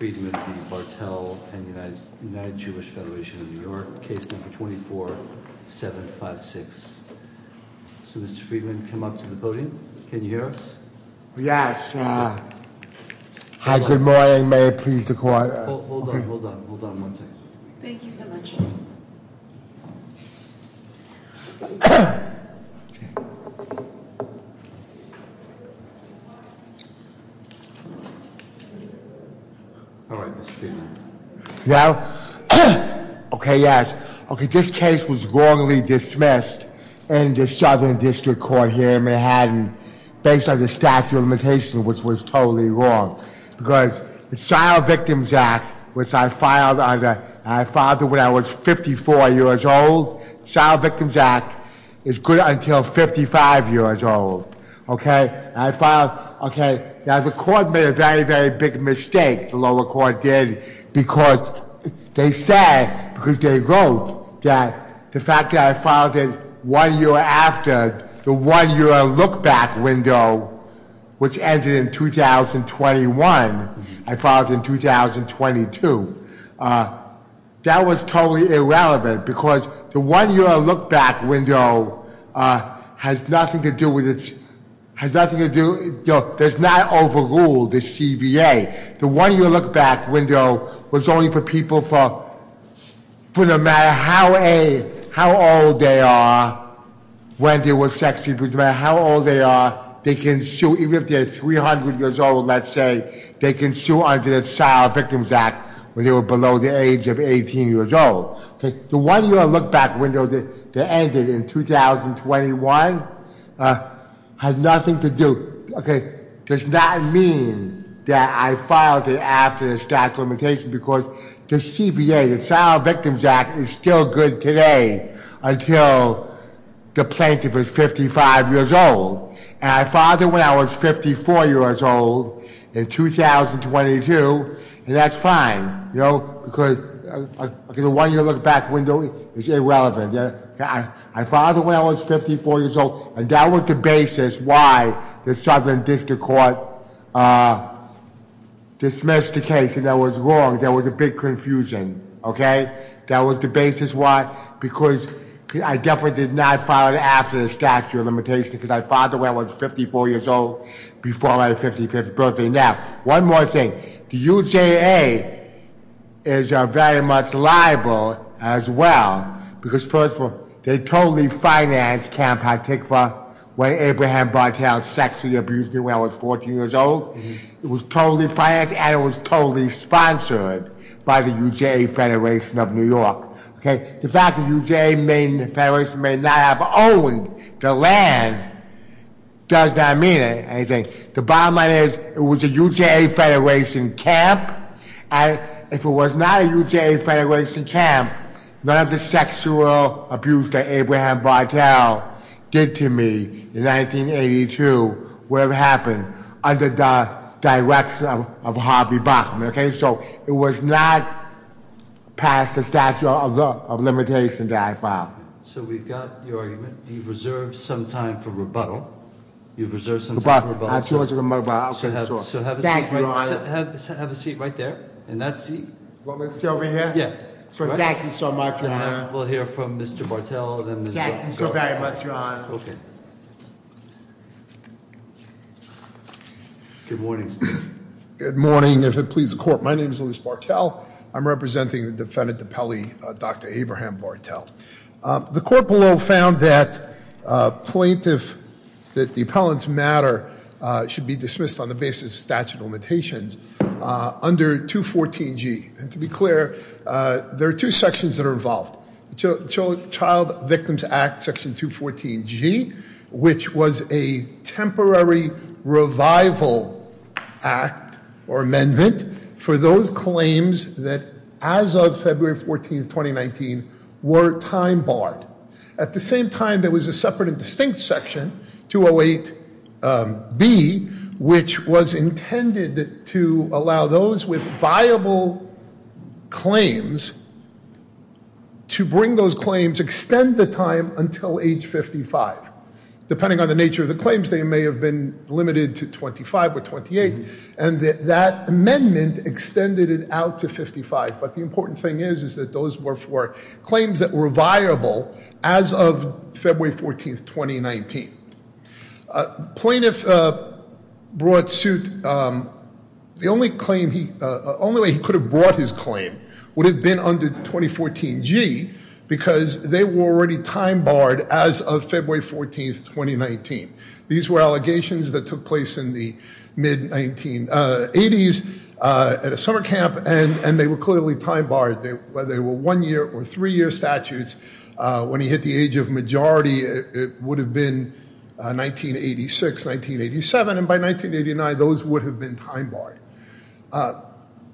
and the United Jewish Federation of New York, case number 24756. So Mr. Friedman, come up to the podium. Can you hear us? Yes. Hi, good morning. May I please the court? Hold on, hold on, hold on one second. Thank you so much. All right, Mr. Friedman. Now, okay, yes. Okay, this case was wrongly dismissed in the Southern District Court here in Manhattan based on the statute of limitations, which was totally wrong. Because the Child Victims Act, which I filed when I was 54 years old, the Child Victims Act is good until 55 years old. Okay, and I filed, okay, now the court made a very, very big mistake, the lower court did, because they said, because they wrote that the fact that I filed it one year after the one-year look-back window, which ended in 2021, I filed it in 2022. That was totally irrelevant, because the one-year look-back window has nothing to do with, has nothing to do, does not overrule the CVA. The one-year look-back window was only for people for, for no matter how old they are, when they were sexed, no matter how old they are, they can sue, even if they're 300 years old, let's say, they can sue under the Child Victims Act when they were below the age of 18 years old. Okay, the one-year look-back window that ended in 2021 had nothing to do, okay, does not mean that I filed it after the statute of limitations, because the CVA, the Child Victims Act, is still good today until the plaintiff is 55 years old. And I filed it when I was 54 years old in 2022, and that's fine, because the one-year look-back window is irrelevant. I filed it when I was 54 years old, and that was the basis why the Southern District Court dismissed the case, and that was wrong. There was a big confusion, okay? That was the basis why, because I definitely did not file it after the statute of limitations, because I filed it when I was 54 years old, before my 55th birthday. Now, one more thing, the UJA is very much liable as well, because first of all, they totally financed Camp Hatikva, when Abraham Barthel sexually abused me when I was 14 years old. It was totally financed, and it was totally sponsored by the UJA Federation of New York. Okay? The fact that UJA Federation may not have owned the land does not mean anything. The bottom line is, it was a UJA Federation camp, and if it was not a UJA Federation camp, none of the sexual abuse that Abraham Barthel did to me in 1982 would have happened under the direction of Harvey Bachman, okay? So, it was not past the statute of limitations that I filed. So, we've got your argument. You've reserved some time for rebuttal. You've reserved some time for rebuttal. So, have a seat right there, in that seat. You want me to sit over here? Yeah. Thank you so much, Your Honor. We'll hear from Mr. Barthel, and then- Thank you so very much, Your Honor. Okay. Good morning, Steve. Good morning, if it pleases the court. My name is Louis Barthel. I'm representing the defendant, the appellee, Dr. Abraham Barthel. The court below found that plaintiff, that the appellant's matter should be dismissed on the basis of statute of limitations under 214G. And to be clear, there are two sections that are involved. Child Victims Act, Section 214G, which was a temporary revival act or amendment for those claims that, as of February 14th, 2019, were time barred. At the same time, there was a separate and distinct section, 208B, which was intended to allow those with viable claims to bring those claims, extend the time until age 55. Depending on the nature of the claims, they may have been limited to 25 or 28, and that amendment extended it out to 55. But the important thing is, is that those were for claims that were viable as of February 14th, 2019. Plaintiff brought suit, the only claim he, only way he could have brought his claim would have been under 2014G, because they were already time barred as of February 14th, 2019. These were allegations that took place in the mid-1980s at a summer camp, and they were clearly time barred. They were one-year or three-year statutes. When he hit the age of majority, it would have been 1986, 1987, and by 1989, those would have been time barred.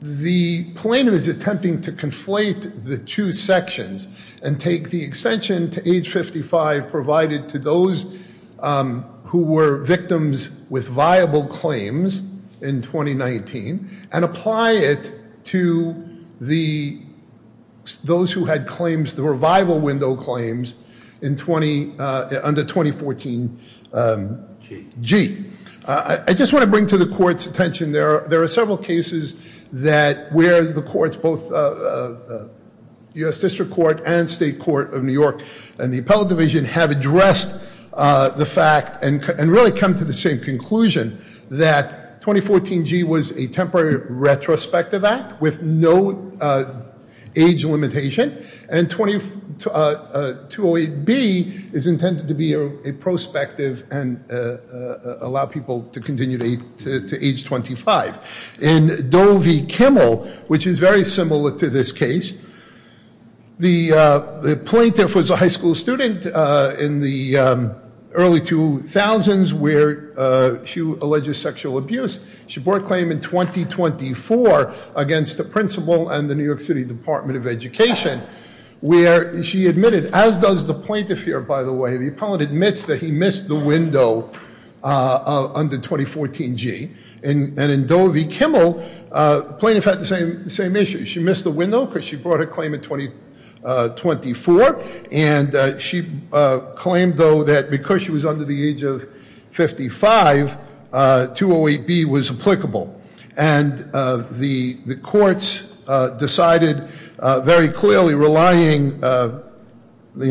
The plaintiff is attempting to conflate the two sections and take the extension to age 55 provided to those who were victims with viable claims in 2019, and apply it to those who had claims that were viable window claims under 2014G. I just want to bring to the court's attention, there are several cases that where the courts, both US District Court and State Court of New York and the Appellate Division have addressed the fact and really come to the same conclusion that 2014G was a temporary retrospective act with no age limitation. And 208B is intended to be a prospective and allow people to continue to age 25. In Doe v. Kimmel, which is very similar to this case, the plaintiff was a high school student in the early 2000s where she alleges sexual abuse. She brought a claim in 2024 against the principal and the New York City Department of Education, where she admitted, as does the plaintiff here, by the way, the appellate admits that he missed the window under 2014G. And in Doe v. Kimmel, plaintiff had the same issue. She missed the window because she brought a claim in 2024. And she claimed, though, that because she was under the age of 55, 208B was applicable, and the courts decided very clearly relying the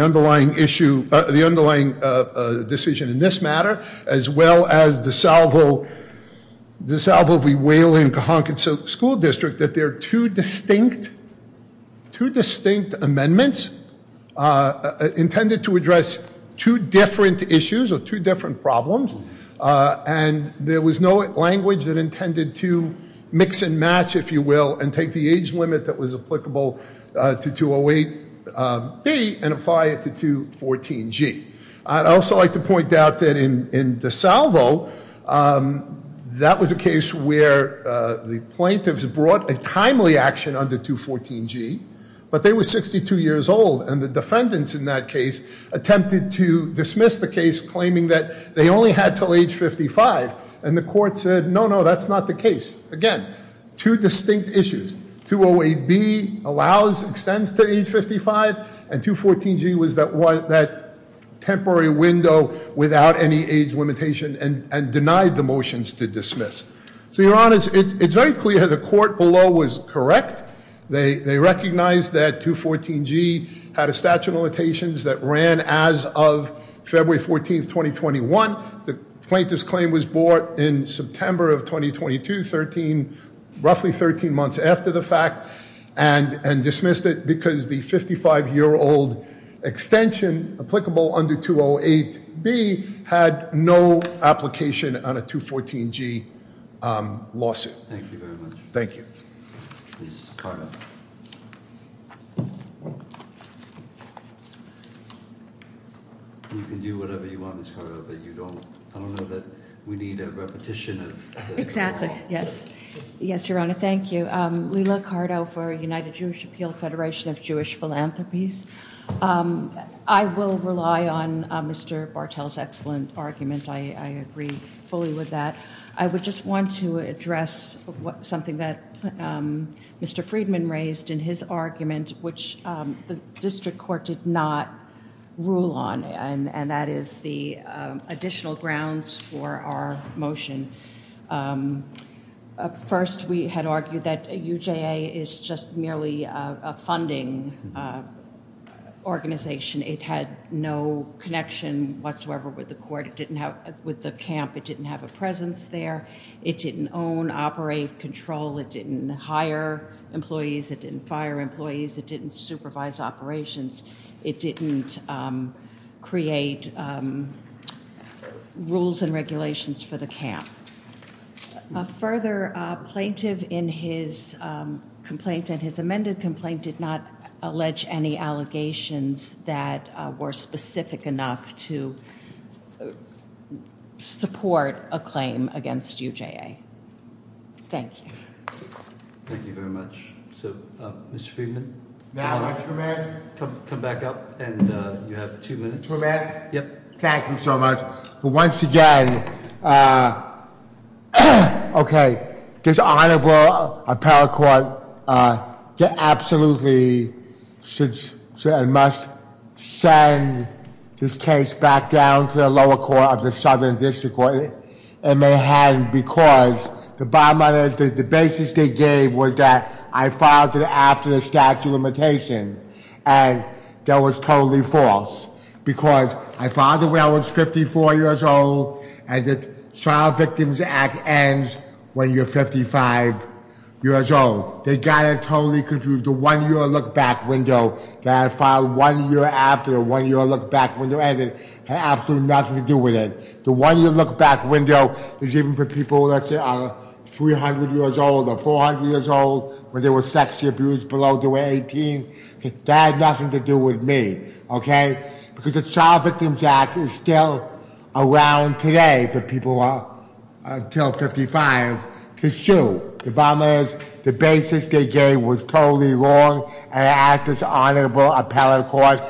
underlying issue, the underlying decision in this matter, as well as DeSalvo v. Whalen-Cahonkin School District, that there are two distinct amendments intended to address two different issues or two different problems. And there was no language that intended to mix and match, if you will, and take the age limit that was applicable to 208B and apply it to 214G. I'd also like to point out that in DeSalvo, that was a case where the plaintiffs brought a timely action under 214G. But they were 62 years old, and the defendants in that case attempted to dismiss the case, claiming that they only had till age 55, and the court said, no, no, that's not the case. Again, two distinct issues, 208B allows, extends to age 55, and 214G was that temporary window without any age limitation, and denied the motions to dismiss. So your honors, it's very clear the court below was correct. They recognized that 214G had a statute of limitations that ran as of February 14th, 2021. The plaintiff's claim was brought in September of 2022, roughly 13 months after the fact, and dismissed it because the 55 year old extension applicable under 208B had no application on a 214G lawsuit. Thank you very much. Thank you. Ms. Cardo. You can do whatever you want, Ms. Cardo, but I don't know that we need a repetition of- Exactly, yes. Yes, your honor, thank you. Lila Cardo for United Jewish Appeal Federation of Jewish Philanthropies. I will rely on Mr. Bartell's excellent argument, I agree fully with that. I would just want to address something that Mr. Friedman raised in his argument, which the district court did not rule on, and that is the additional grounds for our motion. First, we had argued that UJA is just merely a funding organization. It had no connection whatsoever with the court, with the camp. It didn't have a presence there. It didn't own, operate, control. It didn't hire employees. It didn't fire employees. It didn't supervise operations. It didn't create rules and regulations for the camp. Further, plaintiff in his complaint and his amended complaint did not allege any allegations that were specific enough to support a claim against UJA. Thank you. Thank you very much. So, Mr. Friedman? May I come in? Come back up, and you have two minutes. May I come in? Yep. Thank you so much. Once again, okay, this honorable appellate court absolutely must send this case back down to the lower court of the southern district court. And they hadn't because the basis they gave was that I filed it after the statute of limitation. And that was totally false, because I filed it when I was 54 years old, and the Child Victims Act ends when you're 55 years old. They got it totally confused. The one year look back window that I filed one year after the one year look back window ended had absolutely nothing to do with it. The one year look back window is even for people, let's say, 300 years old or 400 years old when they were sexually abused below the age of 18, that had nothing to do with me, okay? Because the Child Victims Act is still around today for people who are until 55 to sue. The bottom line is, the basis they gave was totally wrong, and I ask this honorable appellate court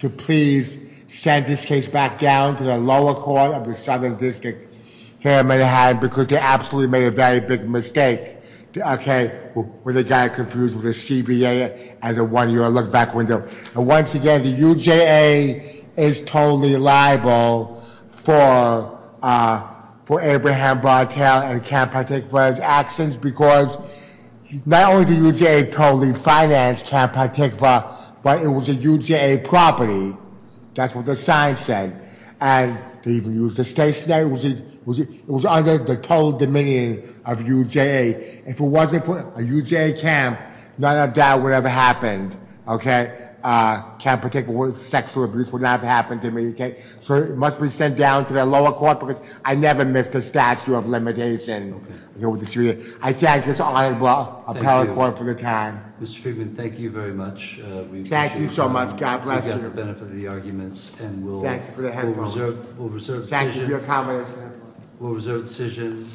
to please send this case back down to the lower court of the southern district here in Manhattan, because they absolutely made a very big mistake, okay, when they got it confused with the CVA and the one year look back window. And once again, the UJA is totally liable for Abraham Barthel and Camp Partikva's actions, because not only did UJA totally finance Camp Partikva, but it was a UJA property, that's what the sign said. And they even used the state's name, it was under the total dominion of UJA. If it wasn't for a UJA camp, none of that would have happened, okay? Camp Partikva sexual abuse would not have happened to me, okay? So it must be sent down to the lower court, because I never missed a statute of limitation. I thank this honorable appellate court for your time. Mr. Friedman, thank you very much. Thank you so much, God bless you. We got the benefit of the arguments, and we'll- Thank you for the headphones. We'll reserve the decision. Thank you for your comments. We'll reserve the decision.